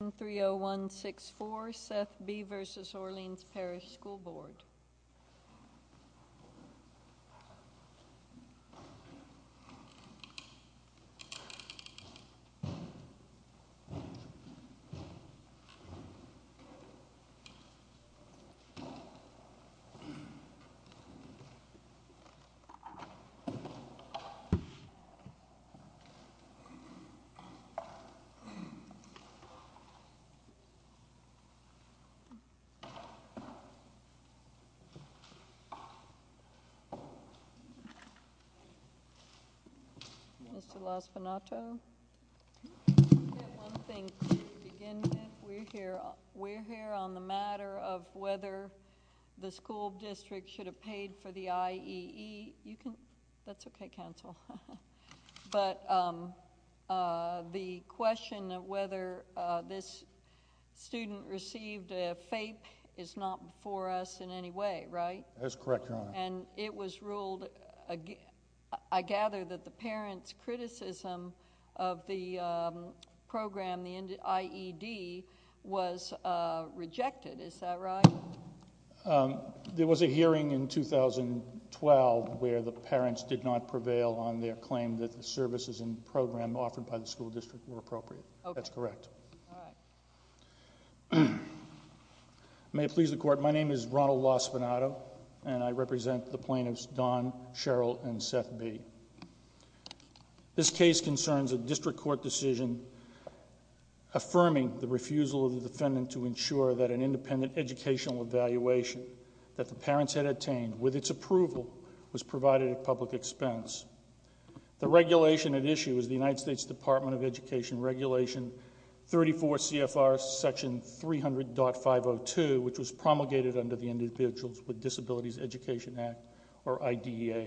Item 30164, Seth B. v. Orleans Parish School Board Item 30164, Mr. Laspinato. I have one thing to begin with. We are here on the matter of whether the school district should have paid for the IEE. That's okay, council. But the question of whether this student received a FAPE is not before us in any way, right? That's correct, Your Honor. And it was ruled—I gather that the parents' criticism of the program, the IED, was rejected. Is that right? There was a hearing in 2012 where the parents did not prevail on their claim that the services and program offered by the school district were appropriate. That's correct. May it please the Court, my name is Ronald Laspinato, and I represent the plaintiffs Don, Cheryl, and Seth B. This case concerns a district court decision affirming the refusal of the defendant to ensure that an independent educational evaluation that the parents had attained, with its approval, was provided at public expense. The regulation at issue is the United States Department of Education Regulation 34 CFR section 300.502, which was promulgated under the Individuals with Disabilities Education Act, or IDEA.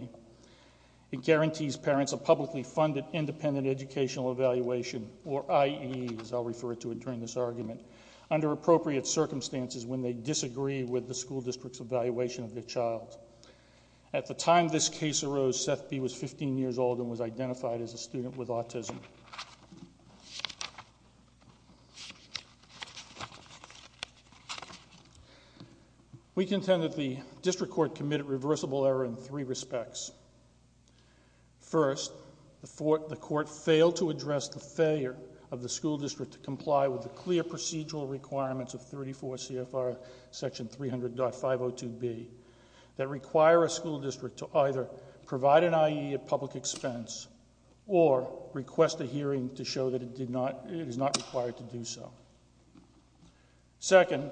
It guarantees parents a publicly funded independent educational evaluation, or IE, as I'll refer to it during this argument, under appropriate circumstances when they disagree with the school district's evaluation of their child. At the time this case arose, Seth B. was 15 years old and was identified as a student with autism. We contend that the district court committed reversible error in three respects. First, the court failed to address the failure of the school district to comply with the clear procedural requirements of 34 CFR section 300.502B that require a school district to either provide an IE at public expense or request a hearing to show that it is not required to do so. Second,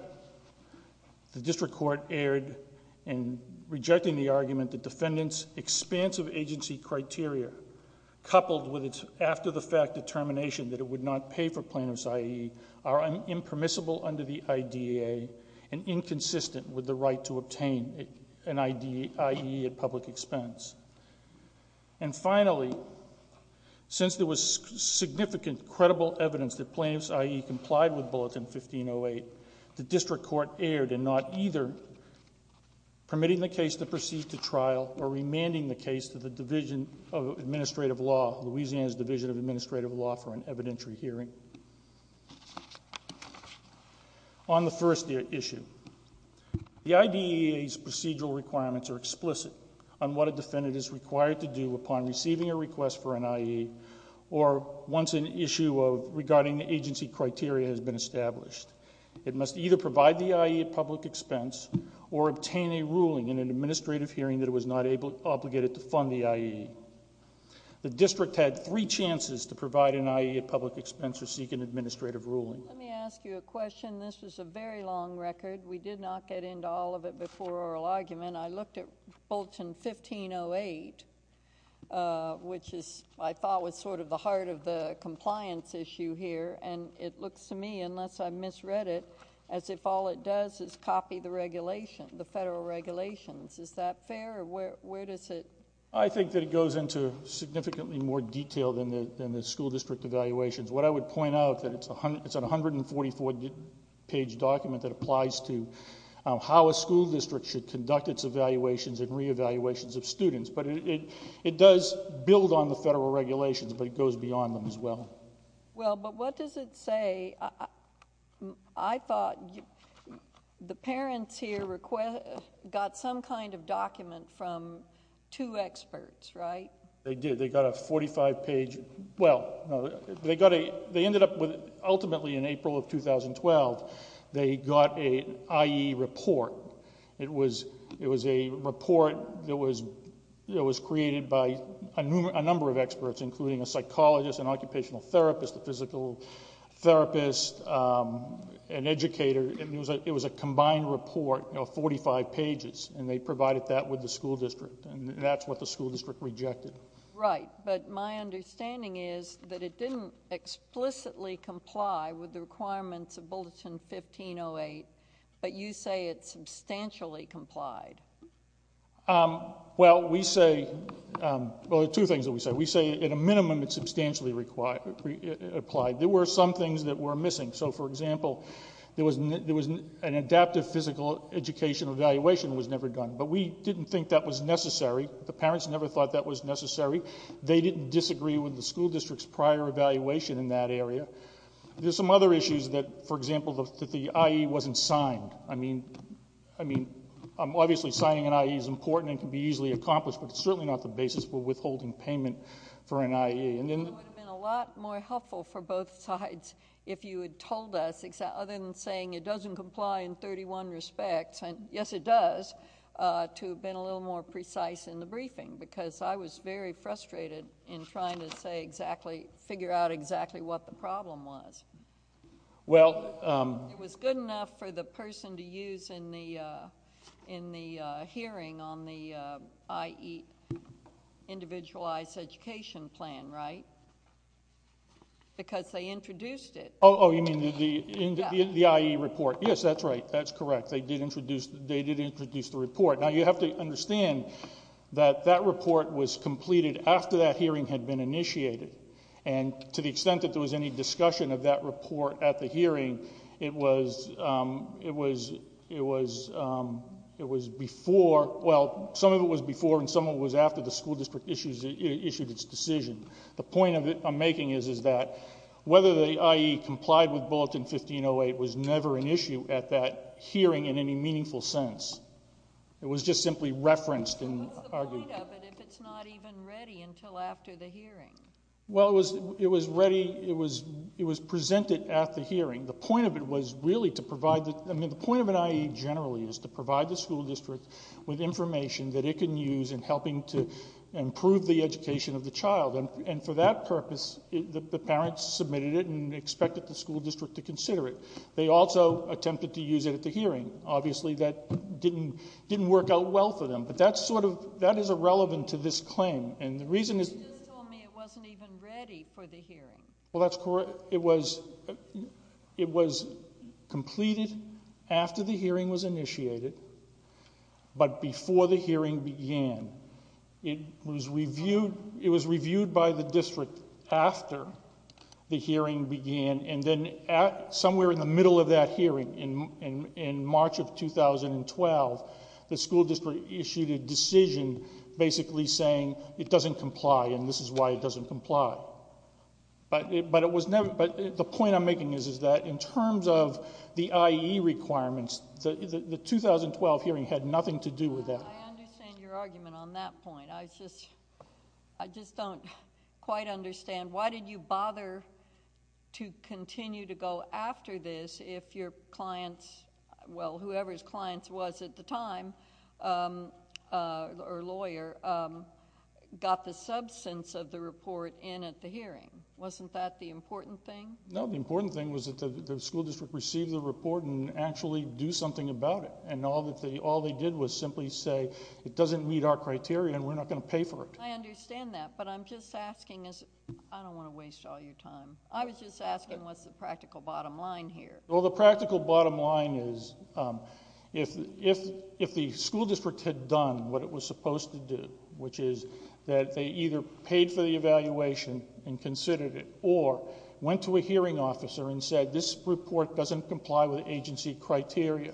the district court erred in rejecting the argument that defendant's expansive agency criteria, coupled with its after-the-fact determination that it would not pay for plaintiff's IE, are impermissible under the IDEA and inconsistent with the right to obtain an IE at public expense. And finally, since there was significant credible evidence that plaintiff's IE complied with Bulletin 1508, the district court erred in not either permitting the case to proceed to trial or remanding the case to the Division of Administrative Law, Louisiana's Division of Administrative Law, for an evidentiary hearing. On the first issue, the IDEA's procedural requirements are explicit on what a defendant is required to do upon receiving a request for an IE or once an issue regarding the agency criteria has been established. It must either provide the IE at public expense or obtain a ruling in an administrative hearing that it was not obligated to fund the IE. The district had three chances to provide an IE at public expense or seek an administrative ruling. Let me ask you a question. This was a very long record. We did not get into all of it before oral argument. I looked at Bulletin 1508, which I thought was sort of the heart of the compliance issue here, and it looks to me, unless I misread it, as if all it does is copy the regulation, the federal regulations. Is that fair, or where does it go? I think that it goes into significantly more detail than the school district evaluations. What I would point out is that it's a 144-page document that applies to how a school district should conduct its evaluations and re-evaluations of students. But it does build on the federal regulations, but it goes beyond them as well. Well, but what does it say? I thought the parents here got some kind of document from two experts, right? They did. They got a 45-page... well, they ended up with, ultimately in April of 2012, they got an IE report. It was a report that was created by a number of experts, including a psychologist, an occupational therapist, a physical therapist, an educator. It was a combined report of 45 pages, and they provided that with the school district, and that's what the school district rejected. Right, but my understanding is that it didn't explicitly comply with the requirements of Bulletin 1508, but you say it substantially complied. Well, we say... well, there are two things that we say. We say, at a minimum, it substantially applied. There were some things that were missing. So, for example, an adaptive physical education evaluation was never done, but we didn't think that was necessary. The parents never thought that was necessary. They didn't disagree with the school district's prior evaluation in that area. There are some other issues that, for example, that the IE wasn't signed. I mean, obviously signing an IE is important and can be easily accomplished, but it's certainly not the basis for withholding payment for an IE. It would have been a lot more helpful for both sides if you had told us, other than saying it doesn't comply in 31 respects, and yes, it does, to have been a little more precise in the briefing, because I was very frustrated in trying to figure out exactly what the problem was. Well... It was good enough for the person to use in the hearing on the IE individualized education plan, right, because they introduced it. Oh, you mean the IE report. Yes, that's right. That's correct. They did introduce the report. Now, you have to understand that that report was completed after that hearing had been initiated, and to the extent that there was any discussion of that report at the hearing, it was before... well, some of it was before and some of it was after the school district issued its decision. The point I'm making is that whether the IE complied with Bulletin 1508 was never an issue at that hearing in any meaningful sense. It was just simply referenced and argued. What's the point of it if it's not even ready until after the hearing? Well, it was ready... it was presented at the hearing. The point of it was really to provide the... I mean, the point of an IE generally is to provide the school district with information that it can use in helping to improve the education of the child. And for that purpose, the parents submitted it and expected the school district to consider it. They also attempted to use it at the hearing. Obviously, that didn't work out well for them. But that's sort of... that is irrelevant to this claim, and the reason is... You just told me it wasn't even ready for the hearing. Well, that's... it was completed after the hearing was initiated, but before the hearing began. It was reviewed... it was reviewed by the district after the hearing began. And then at... somewhere in the middle of that hearing, in March of 2012, the school district issued a decision basically saying it doesn't comply, and this is why it doesn't comply. But it was never... but the point I'm making is that in terms of the IE requirements, the 2012 hearing had nothing to do with that. I understand your argument on that point. I just... I just don't quite understand. Why did you bother to continue to go after this if your clients... well, whoever's clients was at the time, or lawyer, got the substance of the report in at the hearing? Wasn't that the important thing? No, the important thing was that the school district received the report and actually do something about it. And all they did was simply say it doesn't meet our criteria and we're not going to pay for it. I understand that, but I'm just asking... I don't want to waste all your time. I was just asking what's the practical bottom line here? Well, the practical bottom line is if the school district had done what it was supposed to do, which is that they either paid for the evaluation and considered it, or went to a hearing officer and said, this report doesn't comply with agency criteria,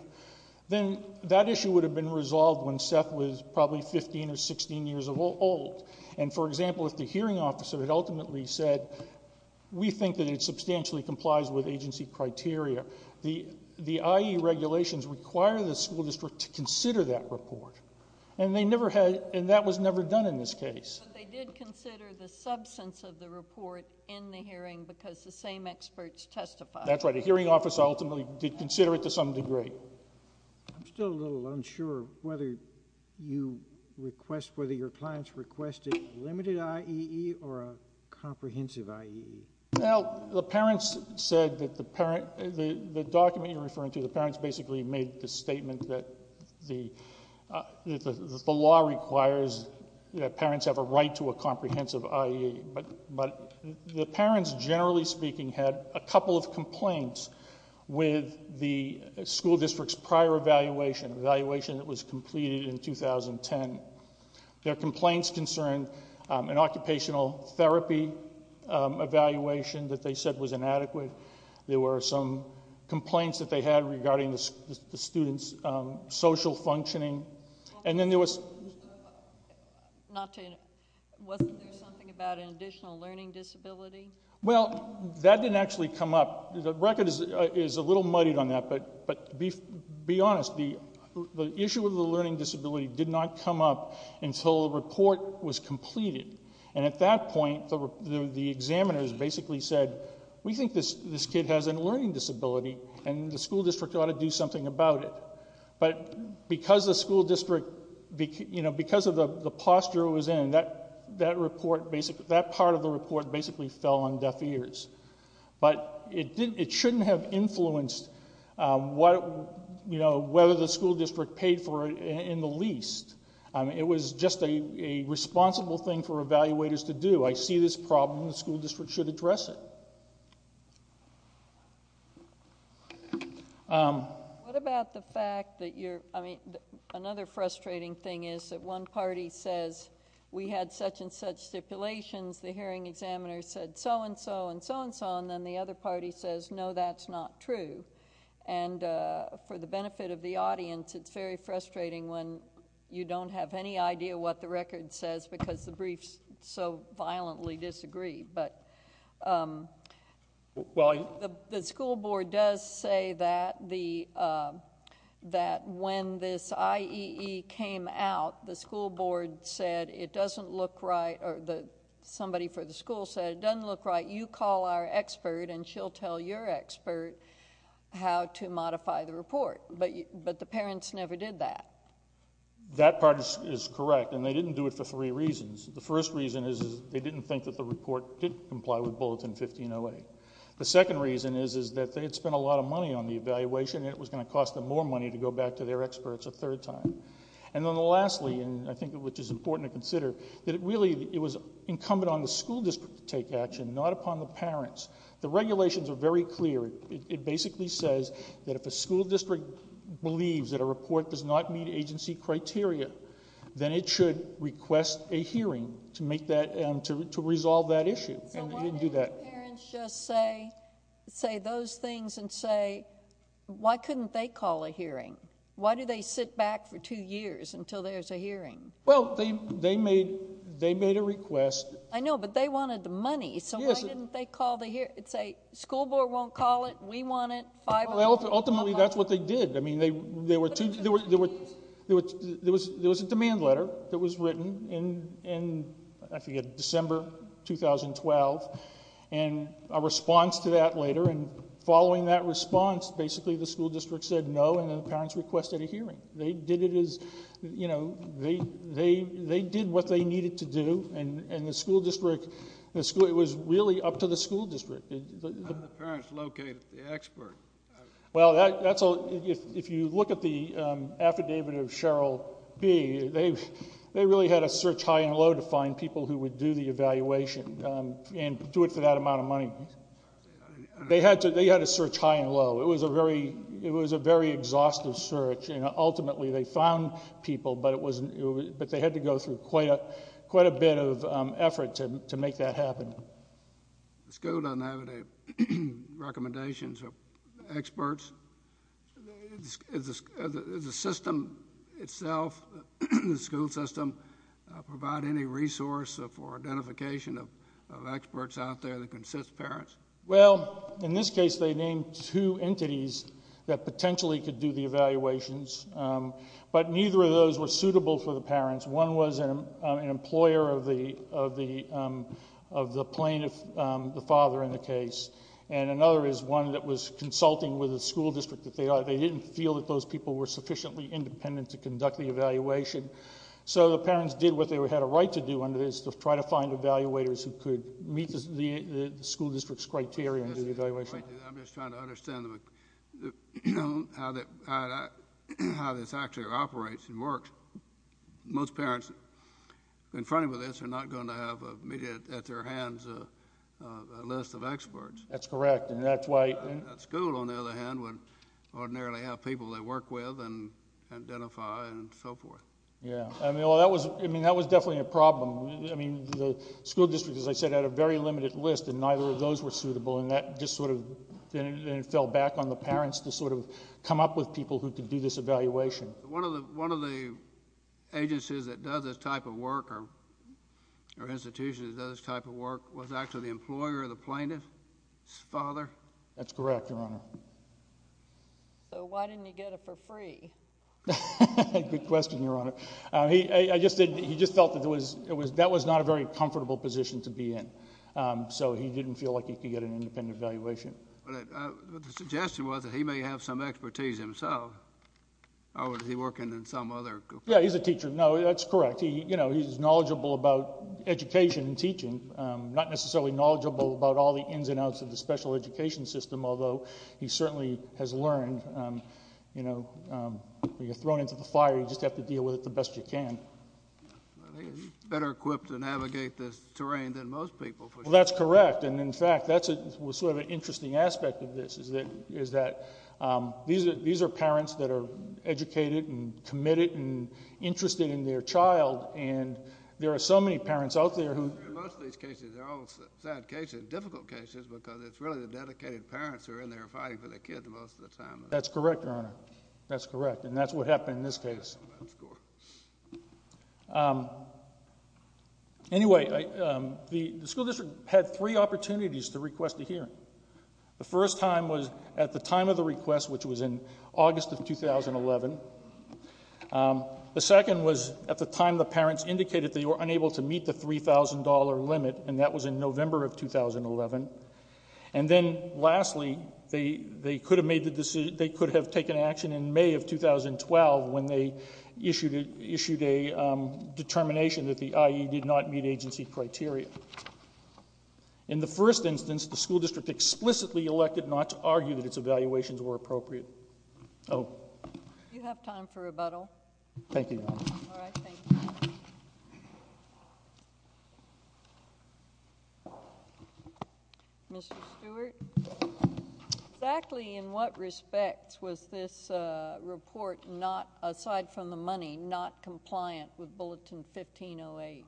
then that issue would have been resolved when Seth was probably 15 or 16 years old. And, for example, if the hearing officer had ultimately said, we think that it substantially complies with agency criteria, the IE regulations require the school district to consider that report. And they never had... and that was never done in this case. But they did consider the substance of the report in the hearing because the same experts testified. That's right. The hearing officer ultimately did consider it to some degree. I'm still a little unsure whether you request... whether your clients requested limited IEE or a comprehensive IEE. Well, the parents said that the parent... the document you're referring to, the parents basically made the statement that the law requires that parents have a right to a comprehensive IEE. But the parents, generally speaking, had a couple of complaints with the school district's prior evaluation, an evaluation that was completed in 2010. Their complaints concerned an occupational therapy evaluation that they said was inadequate. There were some complaints that they had regarding the student's social functioning. And then there was... Not to... wasn't there something about an additional learning disability? Well, that didn't actually come up. The record is a little muddied on that, but to be honest, the issue of the learning disability did not come up until the report was completed. And at that point, the examiners basically said, we think this kid has a learning disability and the school district ought to do something about it. But because the school district... because of the posture it was in, that report basically... that part of the report basically fell on deaf ears. But it shouldn't have influenced whether the school district paid for it in the least. It was just a responsible thing for evaluators to do. I see this problem and the school district should address it. What about the fact that you're... No, that's not true. And for the benefit of the audience, it's very frustrating when you don't have any idea what the record says because the briefs so violently disagree. But... Well... The school board does say that the... that when this IEE came out, the school board said it doesn't look right. Somebody for the school said it doesn't look right. You call our expert and she'll tell your expert how to modify the report. But the parents never did that. That part is correct and they didn't do it for three reasons. The first reason is they didn't think that the report did comply with Bulletin 1508. The second reason is that they had spent a lot of money on the evaluation and it was going to cost them more money to go back to their experts a third time. And then lastly, and I think which is important to consider, that really it was incumbent on the school district to take action, not upon the parents. The regulations are very clear. It basically says that if a school district believes that a report does not meet agency criteria, then it should request a hearing to make that... to resolve that issue. And they didn't do that. Why didn't the parents just say those things and say, why couldn't they call a hearing? Why do they sit back for two years until there's a hearing? Well, they made a request. I know, but they wanted the money. So, why didn't they call the hearing and say, school board won't call it. We want it. Ultimately, that's what they did. I mean, there were two... there was a demand letter that was written in, I forget, December 2012. And a response to that later and following that response, basically the school district said no and the parents requested a hearing. They did it as, you know, they did what they needed to do and the school district... it was really up to the school district. How did the parents locate the expert? Well, if you look at the affidavit of Cheryl B., they really had to search high and low to find people who would do the evaluation and do it for that amount of money. They had to search high and low. It was a very exhaustive search and ultimately they found people, but they had to go through quite a bit of effort to make that happen. The school doesn't have any recommendations or experts. Does the system itself, the school system, provide any resource for identification of experts out there that can assist parents? Well, in this case, they named two entities that potentially could do the evaluations, but neither of those were suitable for the parents. One was an employer of the plaintiff, the father in the case, and another is one that was consulting with the school district that they are. They didn't feel that those people were sufficiently independent to conduct the evaluation. So, the parents did what they had a right to do under this to try to find evaluators who could meet the school district's criteria and do the evaluation. I'm just trying to understand how this actually operates and works. Most parents confronted with this are not going to have at their hands a list of experts. That's correct. That school, on the other hand, would ordinarily have people they work with and identify and so forth. That was definitely a problem. The school district, as I said, had a very limited list and neither of those were suitable. That just fell back on the parents to come up with people who could do this evaluation. One of the agencies that does this type of work or institutions that does this type of work was actually the employer of the plaintiff's father? That's correct, Your Honor. So, why didn't he get it for free? Good question, Your Honor. He just felt that that was not a very comfortable position to be in, so he didn't feel like he could get an independent evaluation. The suggestion was that he may have some expertise himself, or was he working in some other group? Yeah, he's a teacher. No, that's correct. He's knowledgeable about education and teaching, not necessarily knowledgeable about all the ins and outs of the special education system, although he certainly has learned when you're thrown into the fire, you just have to deal with it the best you can. He's better equipped to navigate this terrain than most people. Well, that's correct, and in fact, that's sort of an interesting aspect of this, is that these are parents that are educated and committed and interested in their child, and there are so many parents out there who... In most of these cases, they're all sad cases, difficult cases, because it's really the dedicated parents who are in there fighting for their kids most of the time. That's correct, Your Honor. That's correct, and that's what happened in this case. Anyway, the school district had three opportunities to request a hearing. The first time was at the time of the request, which was in August of 2011. The second was at the time the parents indicated they were unable to meet the $3,000 limit, and that was in November of 2011. And then, lastly, they could have taken action in May of 2012 when they issued a determination that the IE did not meet agency criteria. In the first instance, the school district explicitly elected not to argue that its evaluations were appropriate. Do you have time for rebuttal? Thank you, Your Honor. All right, thank you. Mr. Stewart, exactly in what respects was this report not, aside from the money, not compliant with Bulletin 1508?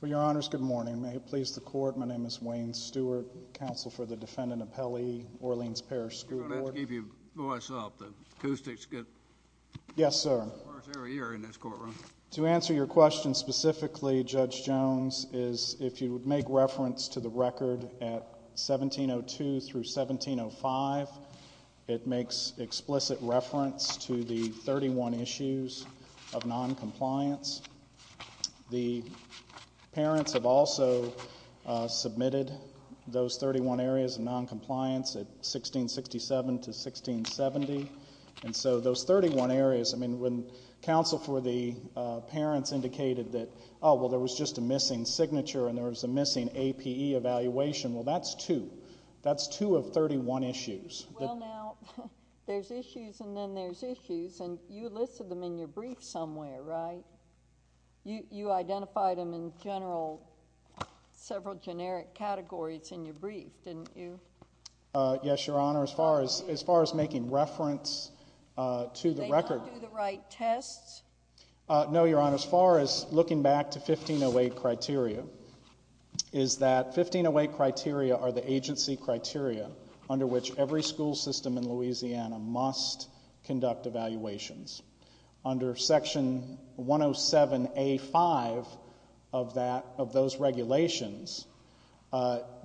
Well, Your Honors, good morning. May it please the Court, my name is Wayne Stewart, counsel for the defendant Appelli, Orleans Parish School Board. I'm going to have to keep your voice up. The acoustics get worse every year in this courtroom. To answer your question specifically, Judge Jones, is if you would make reference to the record at 1702 through 1705, it makes explicit reference to the 31 issues of noncompliance. The parents have also submitted those 31 areas of noncompliance at 1667 to 1670. And so those 31 areas, I mean, when counsel for the parents indicated that, oh, well, there was just a missing signature and there was a missing APE evaluation, well, that's two. That's two of 31 issues. Well, now, there's issues and then there's issues, and you listed them in your brief somewhere, right? You identified them in general, several generic categories in your brief, didn't you? Yes, Your Honor, as far as making reference to the record. They don't do the right tests? No, Your Honor, as far as looking back to 1508 criteria, is that 1508 criteria are the agency criteria under which every school system in Louisiana must conduct evaluations. Under Section 107A.5 of those regulations,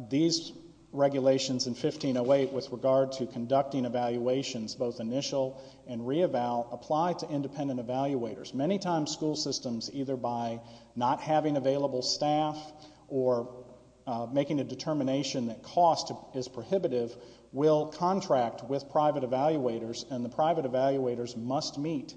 these regulations in 1508 with regard to conducting evaluations, both initial and re-eval, apply to independent evaluators. Many times, school systems, either by not having available staff or making a determination that cost is prohibitive, will contract with private evaluators, and the private evaluators must meet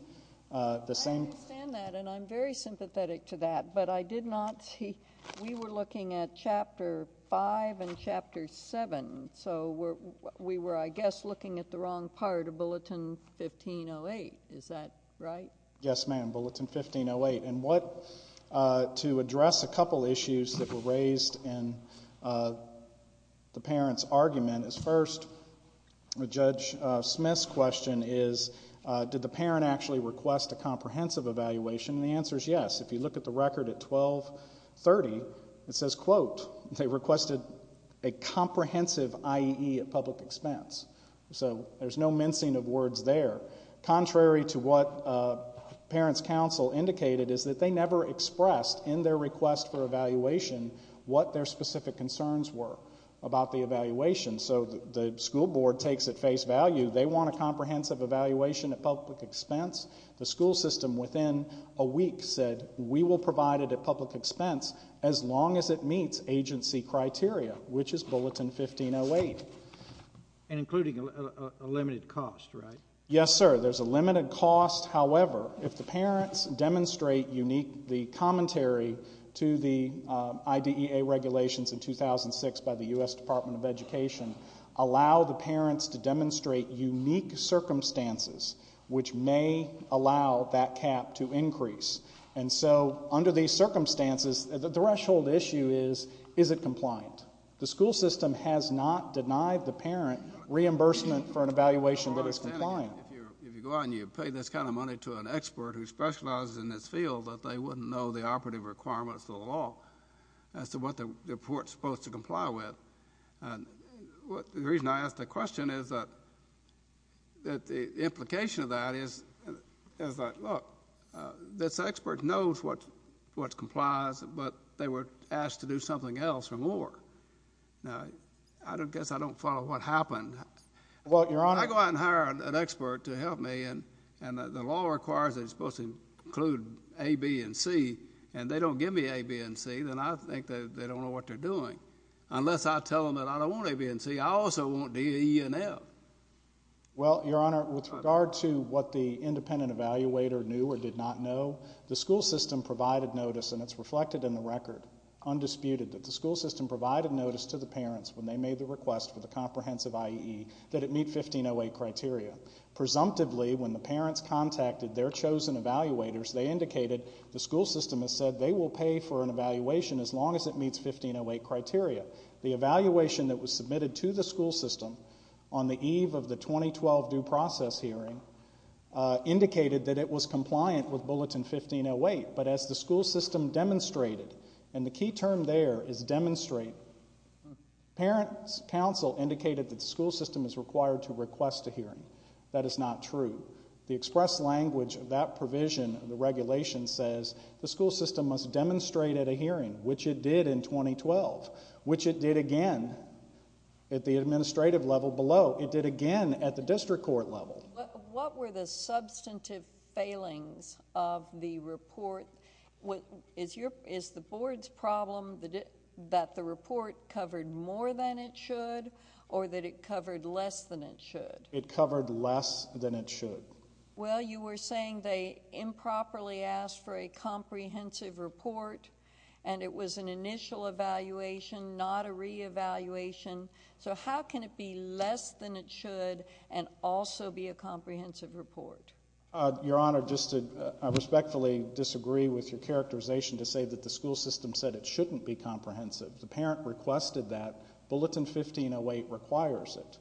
the same. I understand that, and I'm very sympathetic to that, but I did not see. We were looking at Chapter 5 and Chapter 7, so we were, I guess, looking at the wrong part of Bulletin 1508. Is that right? Yes, ma'am, Bulletin 1508. And what, to address a couple issues that were raised in the parents' argument, is first, Judge Smith's question is, did the parent actually request a comprehensive evaluation? And the answer is yes. If you look at the record at 1230, it says, quote, they requested a comprehensive IEE at public expense. So there's no mincing of words there. Contrary to what parents' counsel indicated, is that they never expressed in their request for evaluation what their specific concerns were about the evaluation. So the school board takes at face value they want a comprehensive evaluation at public expense. The school system within a week said we will provide it at public expense as long as it meets agency criteria, which is Bulletin 1508. And including a limited cost, right? Yes, sir. There's a limited cost. However, if the parents demonstrate unique commentary to the IDEA regulations in 2006 by the U.S. Department of Education, allow the parents to demonstrate unique circumstances which may allow that cap to increase. And so under these circumstances, the threshold issue is, is it compliant? The school system has not denied the parent reimbursement for an evaluation that is compliant. If you go out and you pay this kind of money to an expert who specializes in this field, they wouldn't know the operative requirements of the law as to what the report is supposed to comply with. The reason I ask the question is that the implication of that is, look, this expert knows what complies, but they were asked to do something else or more. Now, I guess I don't follow what happened. I go out and hire an expert to help me, and the law requires they're supposed to include A, B, and C, and they don't give me A, B, and C, then I think they don't know what they're doing. Unless I tell them that I don't want A, B, and C, I also want D, E, and F. Well, Your Honor, with regard to what the independent evaluator knew or did not know, the school system provided notice, and it's reflected in the record, undisputed, that the school system provided notice to the parents when they made the request for the comprehensive IEE that it meet 1508 criteria. Presumptively, when the parents contacted their chosen evaluators, they indicated the school system has said they will pay for an evaluation as long as it meets 1508 criteria. The evaluation that was submitted to the school system on the eve of the 2012 due process hearing indicated that it was compliant with Bulletin 1508, but as the school system demonstrated, and the key term there is demonstrate. Parents' counsel indicated that the school system is required to request a hearing. That is not true. The express language of that provision in the regulation says the school system must demonstrate at a hearing, which it did in 2012, which it did again at the administrative level below. It did again at the district court level. What were the substantive failings of the report? Is the board's problem that the report covered more than it should or that it covered less than it should? It covered less than it should. Well, you were saying they improperly asked for a comprehensive report, and it was an initial evaluation, not a reevaluation. So how can it be less than it should and also be a comprehensive report? Your Honor, just to respectfully disagree with your characterization to say that the school system said it shouldn't be comprehensive. The parent requested that. Bulletin 1508 requires it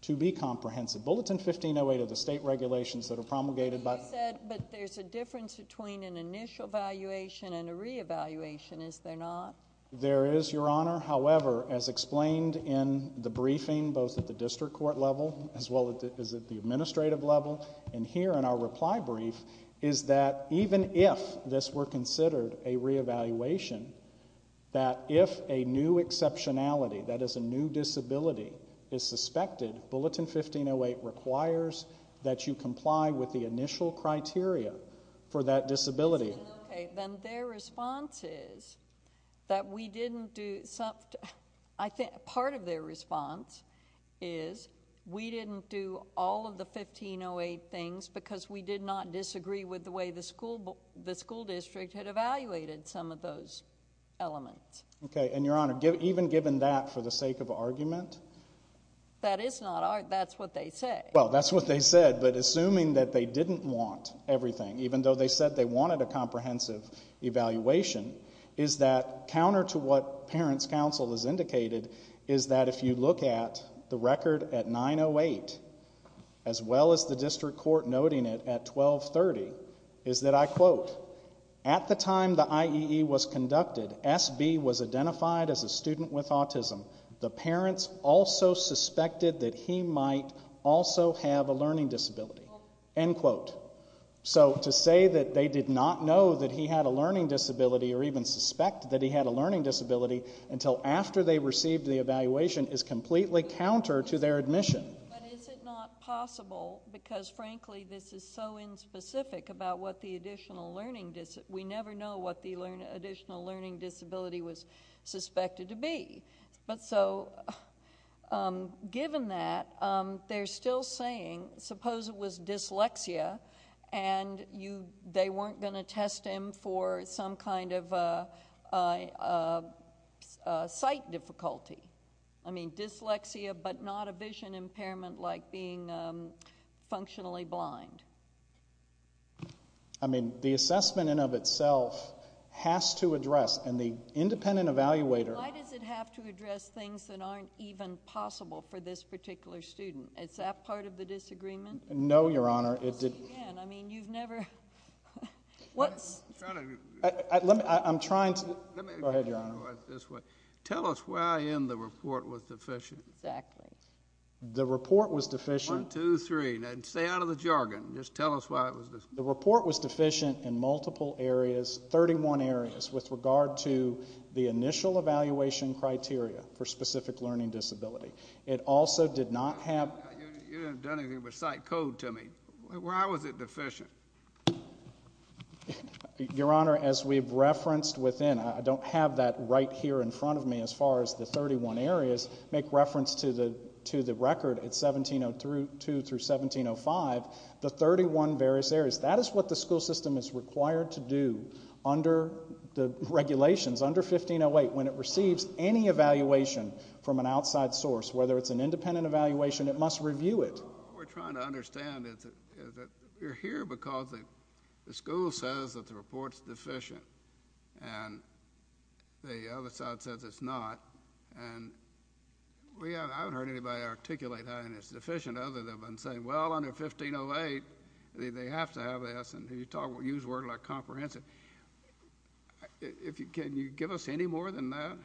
to be comprehensive. Bulletin 1508 of the state regulations that are promulgated by— But you said there's a difference between an initial evaluation and a reevaluation. Is there not? There is, Your Honor. However, as explained in the briefing, both at the district court level as well as at the administrative level, and here in our reply brief, is that even if this were considered a reevaluation, that if a new exceptionality, that is, a new disability, is suspected, Bulletin 1508 requires that you comply with the initial criteria for that disability. Okay, then their response is that we didn't do— because we did not disagree with the way the school district had evaluated some of those elements. Okay, and, Your Honor, even given that for the sake of argument? That is not—that's what they say. Well, that's what they said, but assuming that they didn't want everything, even though they said they wanted a comprehensive evaluation, is that counter to what parents' counsel has indicated is that if you look at the record at 908 as well as the district court noting it at 1230, is that, I quote, at the time the IEE was conducted, SB was identified as a student with autism. The parents also suspected that he might also have a learning disability, end quote. So to say that they did not know that he had a learning disability or even suspect that he had a learning disability until after they received the evaluation is completely counter to their admission. But is it not possible? Because, frankly, this is so inspecific about what the additional learning— we never know what the additional learning disability was suspected to be. But so, given that, they're still saying, suppose it was dyslexia and they weren't going to test him for some kind of sight difficulty. I mean, dyslexia but not a vision impairment like being functionally blind. I mean, the assessment in and of itself has to address, and the independent evaluator— Why does it have to address things that aren't even possible for this particular student? Is that part of the disagreement? No, Your Honor. I mean, you've never— I'm trying to—go ahead, Your Honor. Tell us why in the report was deficient. Exactly. The report was deficient— One, two, three. Stay out of the jargon. Just tell us why it was deficient. The report was deficient in multiple areas, 31 areas, with regard to the initial evaluation criteria for specific learning disability. It also did not have— You haven't done anything but cite code to me. Why was it deficient? Your Honor, as we've referenced within— I don't have that right here in front of me as far as the 31 areas. Make reference to the record. It's 1702 through 1705, the 31 various areas. That is what the school system is required to do under the regulations, under 1508. When it receives any evaluation from an outside source, whether it's an independent evaluation, it must review it. What we're trying to understand is that we're here because the school says that the report's deficient, and the other side says it's not. I haven't heard anybody articulate that it's deficient other than saying, well, under 1508, they have to have this, and you use words like comprehensive. Can you give us any more than that?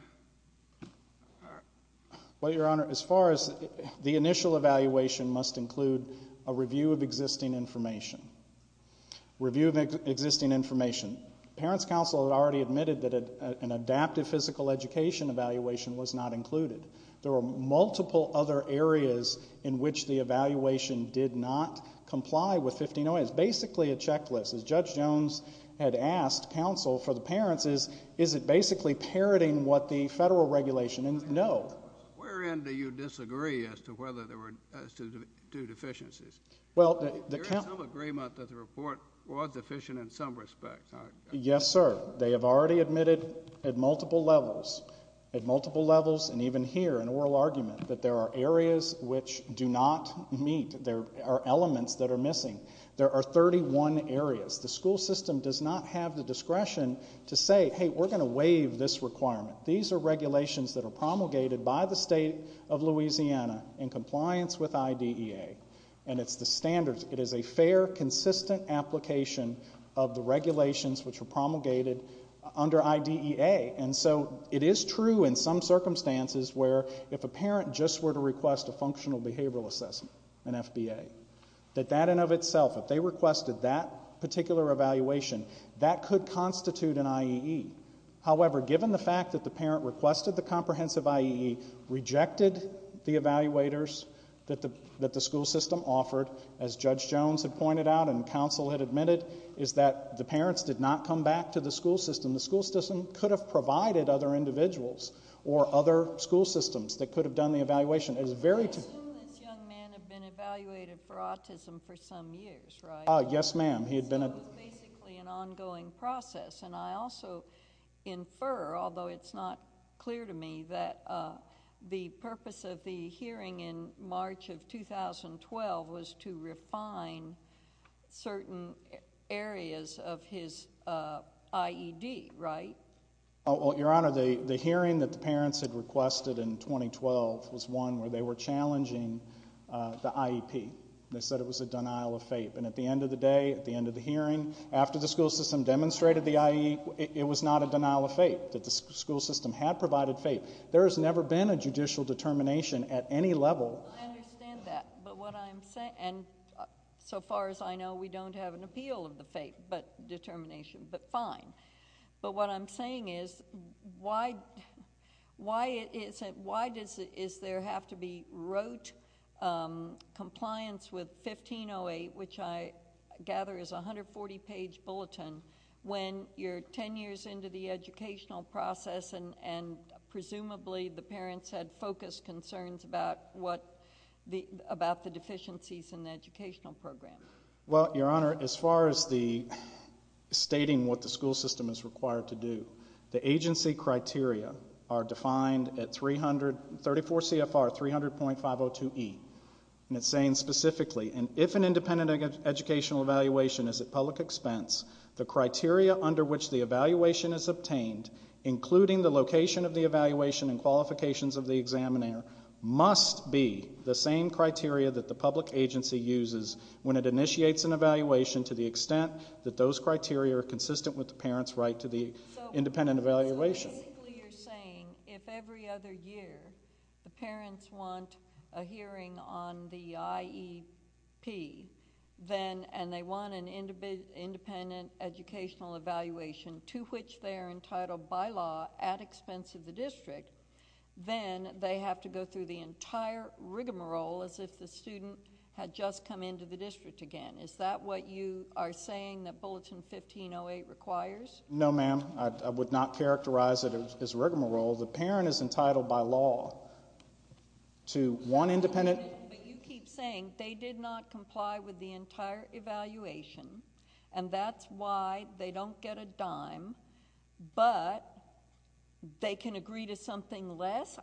Well, Your Honor, as far as the initial evaluation, it must include a review of existing information. Review of existing information. Parents Council had already admitted that an adaptive physical education evaluation was not included. There were multiple other areas in which the evaluation did not comply with 1508. As Judge Jones had asked counsel for the parents, is it basically parroting what the federal regulation? No. Wherein do you disagree as to deficiencies? There is some agreement that the report was deficient in some respects. Yes, sir. They have already admitted at multiple levels, and even here, an oral argument, that there are areas which do not meet. There are elements that are missing. There are 31 areas. The school system does not have the discretion to say, hey, we're going to waive this requirement. These are regulations that are promulgated by the state of Louisiana in compliance with IDEA, and it's the standards. It is a fair, consistent application of the regulations which are promulgated under IDEA. And so it is true in some circumstances where if a parent just were to request a functional behavioral assessment, an FBA, that that in and of itself, if they requested that particular evaluation, that could constitute an IEE. However, given the fact that the parent requested the comprehensive IEE, rejected the evaluators that the school system offered, as Judge Jones had pointed out and counsel had admitted, is that the parents did not come back to the school system. The school system could have provided other individuals or other school systems that could have done the evaluation. I assume this young man had been evaluated for autism for some years, right? Yes, ma'am. So it was basically an ongoing process. And I also infer, although it's not clear to me, that the purpose of the hearing in March of 2012 was to refine certain areas of his IED, right? Your Honor, the hearing that the parents had requested in 2012 was one where they were challenging the IEP. They said it was a denial of FAPE. And at the end of the day, at the end of the hearing, after the school system demonstrated the IEE, it was not a denial of FAPE, that the school system had provided FAPE. There has never been a judicial determination at any level. I understand that. And so far as I know, we don't have an appeal of the FAPE determination. But fine. But what I'm saying is, why does there have to be rote compliance with 1508, which I gather is a 140-page bulletin, when you're 10 years into the educational process and presumably the parents had focused concerns about the deficiencies in the educational program? Well, Your Honor, as far as stating what the school system is required to do, the agency criteria are defined at 34 CFR 300.502E. And it's saying specifically, if an independent educational evaluation is at public expense, the criteria under which the evaluation is obtained, including the location of the evaluation and qualifications of the examiner, must be the same criteria that the public agency uses when it initiates an evaluation, to the extent that those criteria are consistent with the parents' right to the independent evaluation. So basically you're saying if every other year the parents want a hearing on the IEP and they want an independent educational evaluation to which they are entitled by law at expense of the district, then they have to go through the entire rigmarole as if the student had just come into the district again. Is that what you are saying that Bulletin 1508 requires? No, ma'am. I would not characterize it as a rigmarole. The parent is entitled by law to one independent... But you keep saying they did not comply with the entire evaluation and that's why they don't get a dime, but they can agree to something less?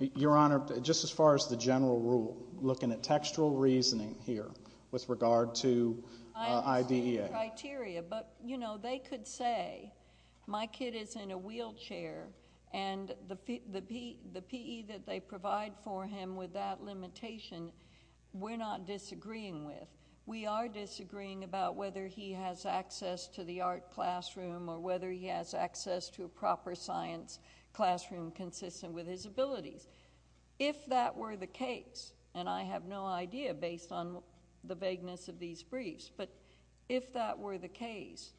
Your Honour, just as far as the general rule, looking at textual reasoning here with regard to IDEA... I understand the criteria, but, you know, they could say, my kid is in a wheelchair and the PE that they provide for him with that limitation, we're not disagreeing with. We are disagreeing about whether he has access to the art classroom or whether he has access to a proper science classroom consistent with his abilities. If that were the case, and I have no idea, based on the vagueness of these briefs, but if that were the case,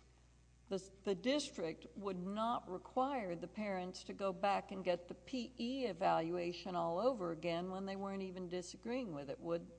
the district would not require the parents to go back and get the PE evaluation all over again when they weren't even disagreeing with it, would they?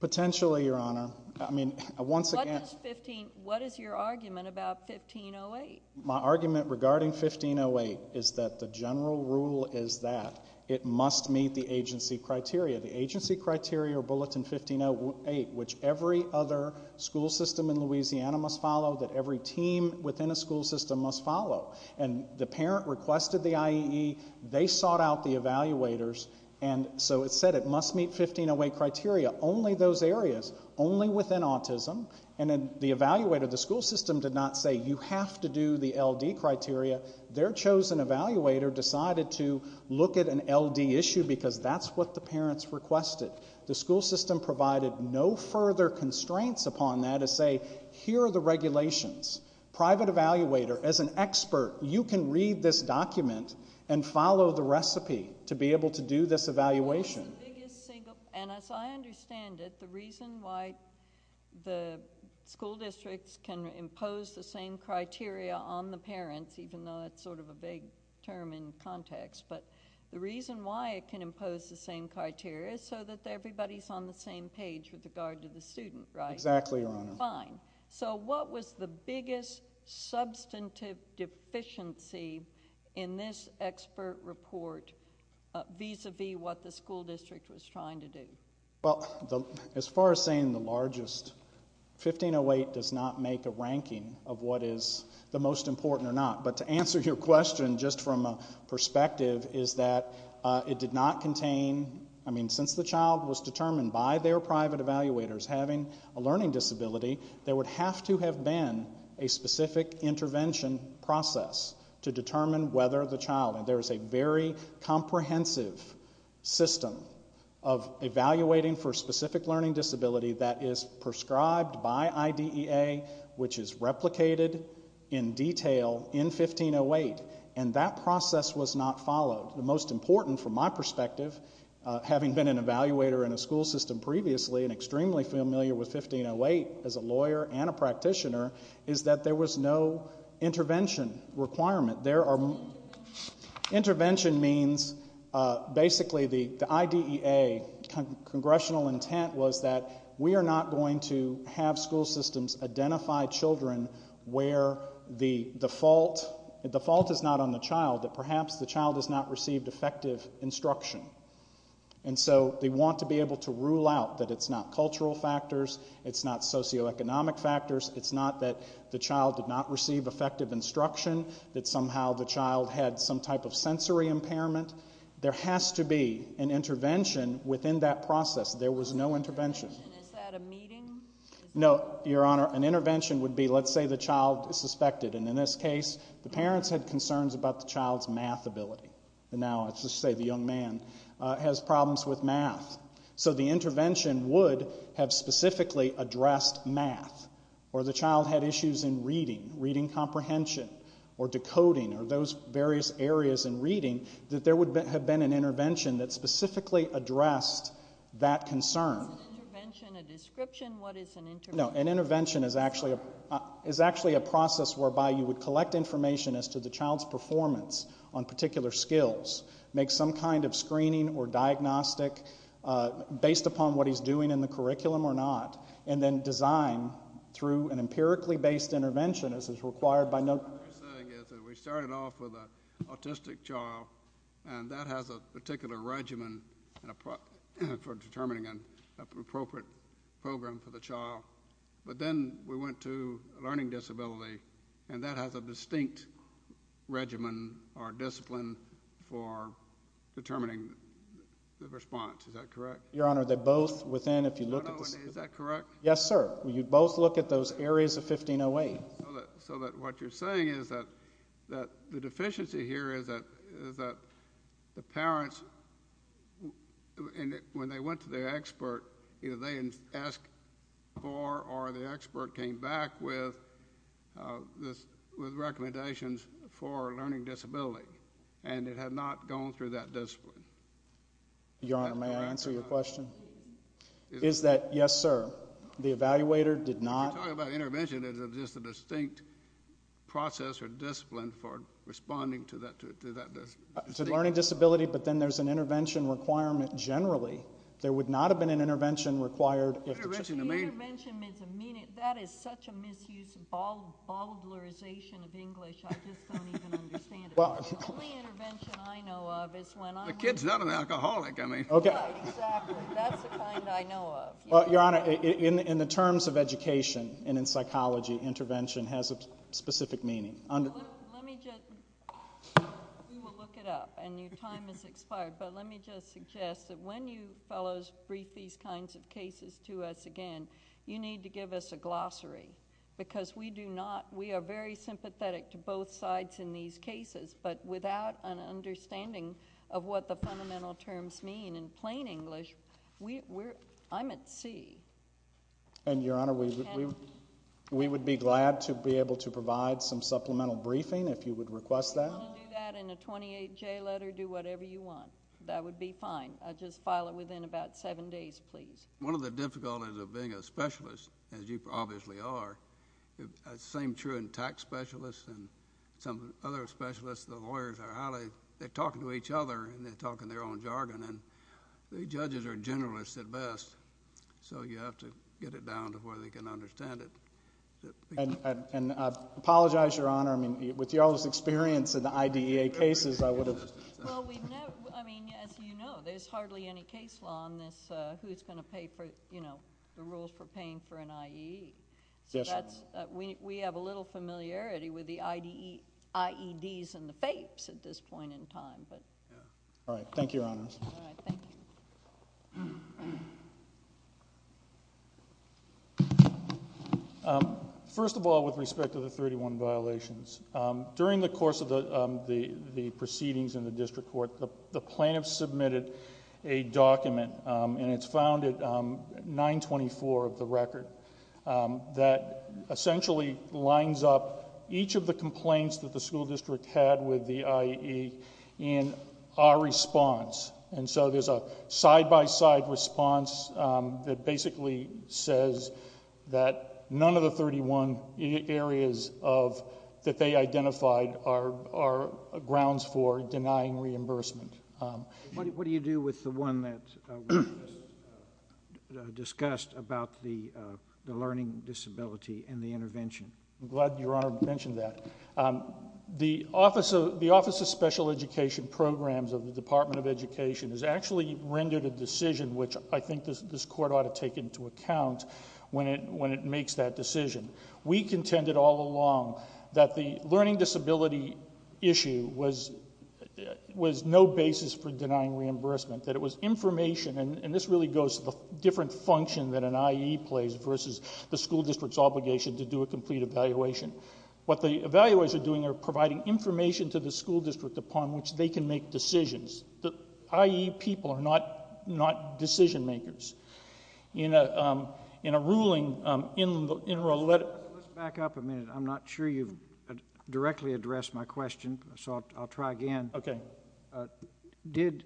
Potentially, Your Honour. What is your argument about 1508? My argument regarding 1508 is that the general rule is that it must meet the agency criteria. The agency criteria Bulletin 1508, which every other school system in Louisiana must follow, that every team within a school system must follow, and the parent requested the IEE, they sought out the evaluators, and so it said it must meet 1508 criteria. Only those areas, only within autism, and the evaluator, the school system did not say, you have to do the LD criteria. Their chosen evaluator decided to look at an LD issue because that's what the parents requested. The school system provided no further constraints upon that to say, here are the regulations. Private evaluator, as an expert, you can read this document and follow the recipe to be able to do this evaluation. And as I understand it, the reason why the school districts can impose the same criteria on the parents, even though it's sort of a vague term in context, but the reason why it can impose the same criteria is so that everybody's on the same page with regard to the student, right? Exactly, Your Honour. Fine. So what was the biggest substantive deficiency in this expert report vis-à-vis what the school district was trying to do? Well, as far as saying the largest, 1508 does not make a ranking of what is the most important or not. But to answer your question just from a perspective is that it did not contain, I mean, since the child was determined by their private evaluators having a learning disability, there would have to have been a specific intervention process to determine whether the child, and there is a very comprehensive system of evaluating for a specific learning disability that is prescribed by IDEA, which is replicated in detail in 1508, and that process was not followed. The most important, from my perspective, having been an evaluator in a school system previously and extremely familiar with 1508 as a lawyer and a practitioner, is that there was no intervention requirement. Intervention means basically the IDEA congressional intent was that we are not going to have school systems identify children where the fault is not on the child, that perhaps the child has not received effective instruction. And so they want to be able to rule out that it's not cultural factors, it's not socioeconomic factors, it's not that the child did not receive effective instruction, that somehow the child had some type of sensory impairment. There has to be an intervention within that process. There was no intervention. Is that a meeting? No, Your Honor, an intervention would be, let's say the child is suspected, and in this case, the parents had concerns about the child's math ability. And now, let's just say the young man has problems with math. So the intervention would have specifically addressed math, or the child had issues in reading, reading comprehension, or decoding, or those various areas in reading, that there would have been an intervention that specifically addressed that concern. Is an intervention a description? What is an intervention? No, an intervention is actually a process whereby you would collect information as to the child's performance on particular skills, make some kind of screening or diagnostic based upon what he's doing in the curriculum or not, and then design through an empirically based intervention as is required by... What you're saying is that we started off with an autistic child, and that has a particular regimen for determining an appropriate program for the child. But then we went to a learning disability, and that has a distinct regimen or discipline for determining the response. Is that correct? Your Honour, they're both within... Is that correct? Yes, sir. You both look at those areas of 1508. So what you're saying is that the deficiency here is that the parents, when they went to their expert, either they asked for or the expert came back with recommendations for learning disability, and it had not gone through that discipline. Your Honour, may I answer your question? Is that... Yes, sir. The evaluator did not... You're talking about intervention as just a distinct process or discipline for responding to that discipline. To learning disability, but then there's an intervention requirement generally. There would not have been an intervention required... Intervention is a mean... That is such a misuse of... I just don't even understand it. The only intervention I know of is when I'm... The kid's not an alcoholic, I mean. Exactly. That's the kind I know of. Your Honour, in the terms of education and in psychology, intervention has a specific meaning. Let me just... We will look it up, and your time has expired, but let me just suggest that when you fellows brief these kinds of cases to us again, you need to give us a glossary, because we do not... We will look to both sides in these cases, but without an understanding of what the fundamental terms mean in plain English, I'm at sea. And, your Honour, we would be glad to be able to provide some supplemental briefing if you would request that. If you want to do that in a 28J letter, do whatever you want. That would be fine. Just file it within about seven days, please. One of the difficulties of being a specialist, as you obviously are, same true in tax specialists, and some other specialists, the lawyers are highly... They're talking to each other, and they're talking their own jargon, and the judges are generalists at best, so you have to get it down to where they can understand it. And I apologize, your Honour, I mean, with your experience in the IDEA cases, I would have... Well, we've never... I mean, as you know, there's hardly any case law on this, who's going to pay for, you know, the rules for paying for an IE. Yes, Your Honour. We have a little familiarity with the IEDs and the FAPEs at this point in time, but... All right, thank you, Your Honour. All right, thank you. First of all, with respect to the 31 violations, during the course of the proceedings in the district court, the plaintiffs submitted a document, and it's found at 924 of the record, that essentially lines up each of the complaints that the school district had with the IE in our response. And so there's a side-by-side response that basically says that none of the 31 areas of... that they identified are grounds for denying reimbursement. What do you do with the one that was just discussed about the learning disability and the intervention? I'm glad Your Honour mentioned that. The Office of Special Education Programs of the Department of Education has actually rendered a decision which I think this court ought to take into account when it makes that decision. We contended all along that the learning disability issue was no basis for denying reimbursement, that it was information, and this really goes to the different function that an IE plays versus the school district's obligation to do a complete evaluation. What the evaluators are doing are providing information to the school district upon which they can make decisions. The IE people are not decision-makers. In a ruling... Let's back up a minute. I'm not sure you've directly addressed my question. I'll try again. Did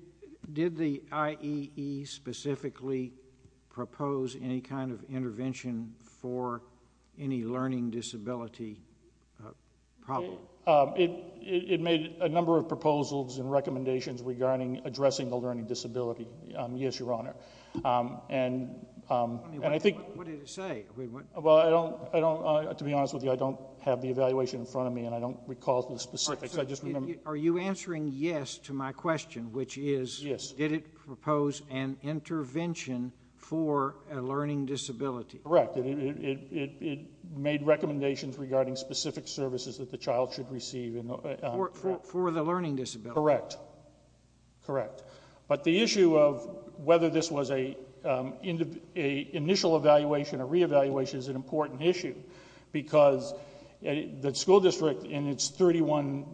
the IEE specifically propose any kind of intervention for any learning disability problem? It made a number of proposals and recommendations regarding addressing the learning disability, yes, Your Honour. And I think... What did it say? To be honest with you, I don't have the evaluation in front of me and I don't recall the specifics. Are you answering yes to my question, which is, did it propose an intervention for a learning disability? Correct. It made recommendations regarding specific services that the child should receive. For the learning disability. Correct. Correct. But the issue of whether this was an initial evaluation or re-evaluation is an important issue because the school district, in its 31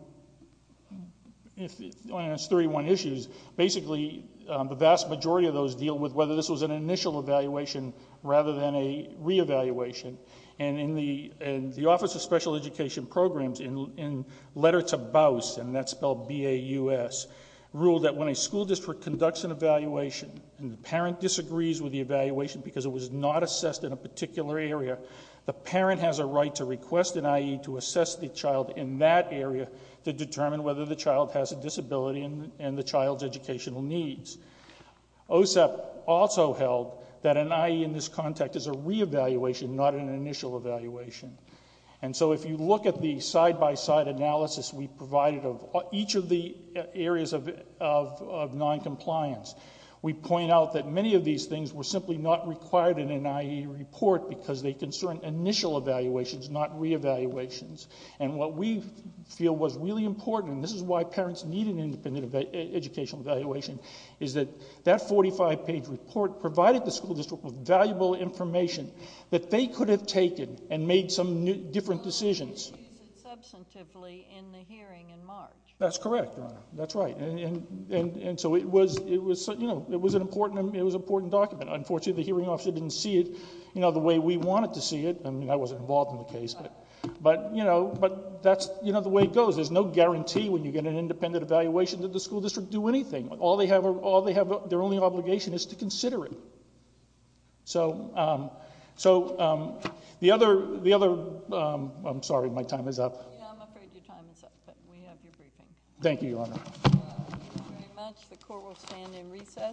issues, basically the vast majority of those deal with whether this was an initial evaluation rather than a re-evaluation. And the Office of Special Education Programs, in letter to Baus, and that's spelled B-A-U-S, ruled that when a school district conducts an evaluation and the parent disagrees with the evaluation because it was not assessed in a particular area, the parent has a right to request an I.E. to assess the child in that area to determine whether the child has a disability and the child's educational needs. OSEP also held that an I.E. in this context is a re-evaluation, not an initial evaluation. And so if you look at the side-by-side analysis we provided of each of the areas of noncompliance, we point out that many of these things were simply not required in an I.E. report because they concern initial evaluations, not re-evaluations. And what we feel was really important, and this is why parents need an independent educational evaluation, is that that 45-page report provided the school district with valuable information that they could have taken and made some different decisions. OSEP used it substantively in the hearing in March. That's correct, Your Honor. That's right. And so it was an important document. Unfortunately, the hearing officer didn't see it the way we wanted to see it. I mean, I wasn't involved in the case. But that's the way it goes. There's no guarantee when you get an independent evaluation that the school district will do anything. All they have, their only obligation, is to consider it. So the other... I'm sorry, my time is up. I'm afraid your time is up, but we have your briefing. Thank you, Your Honor. Thank you very much. The court will stand in recess.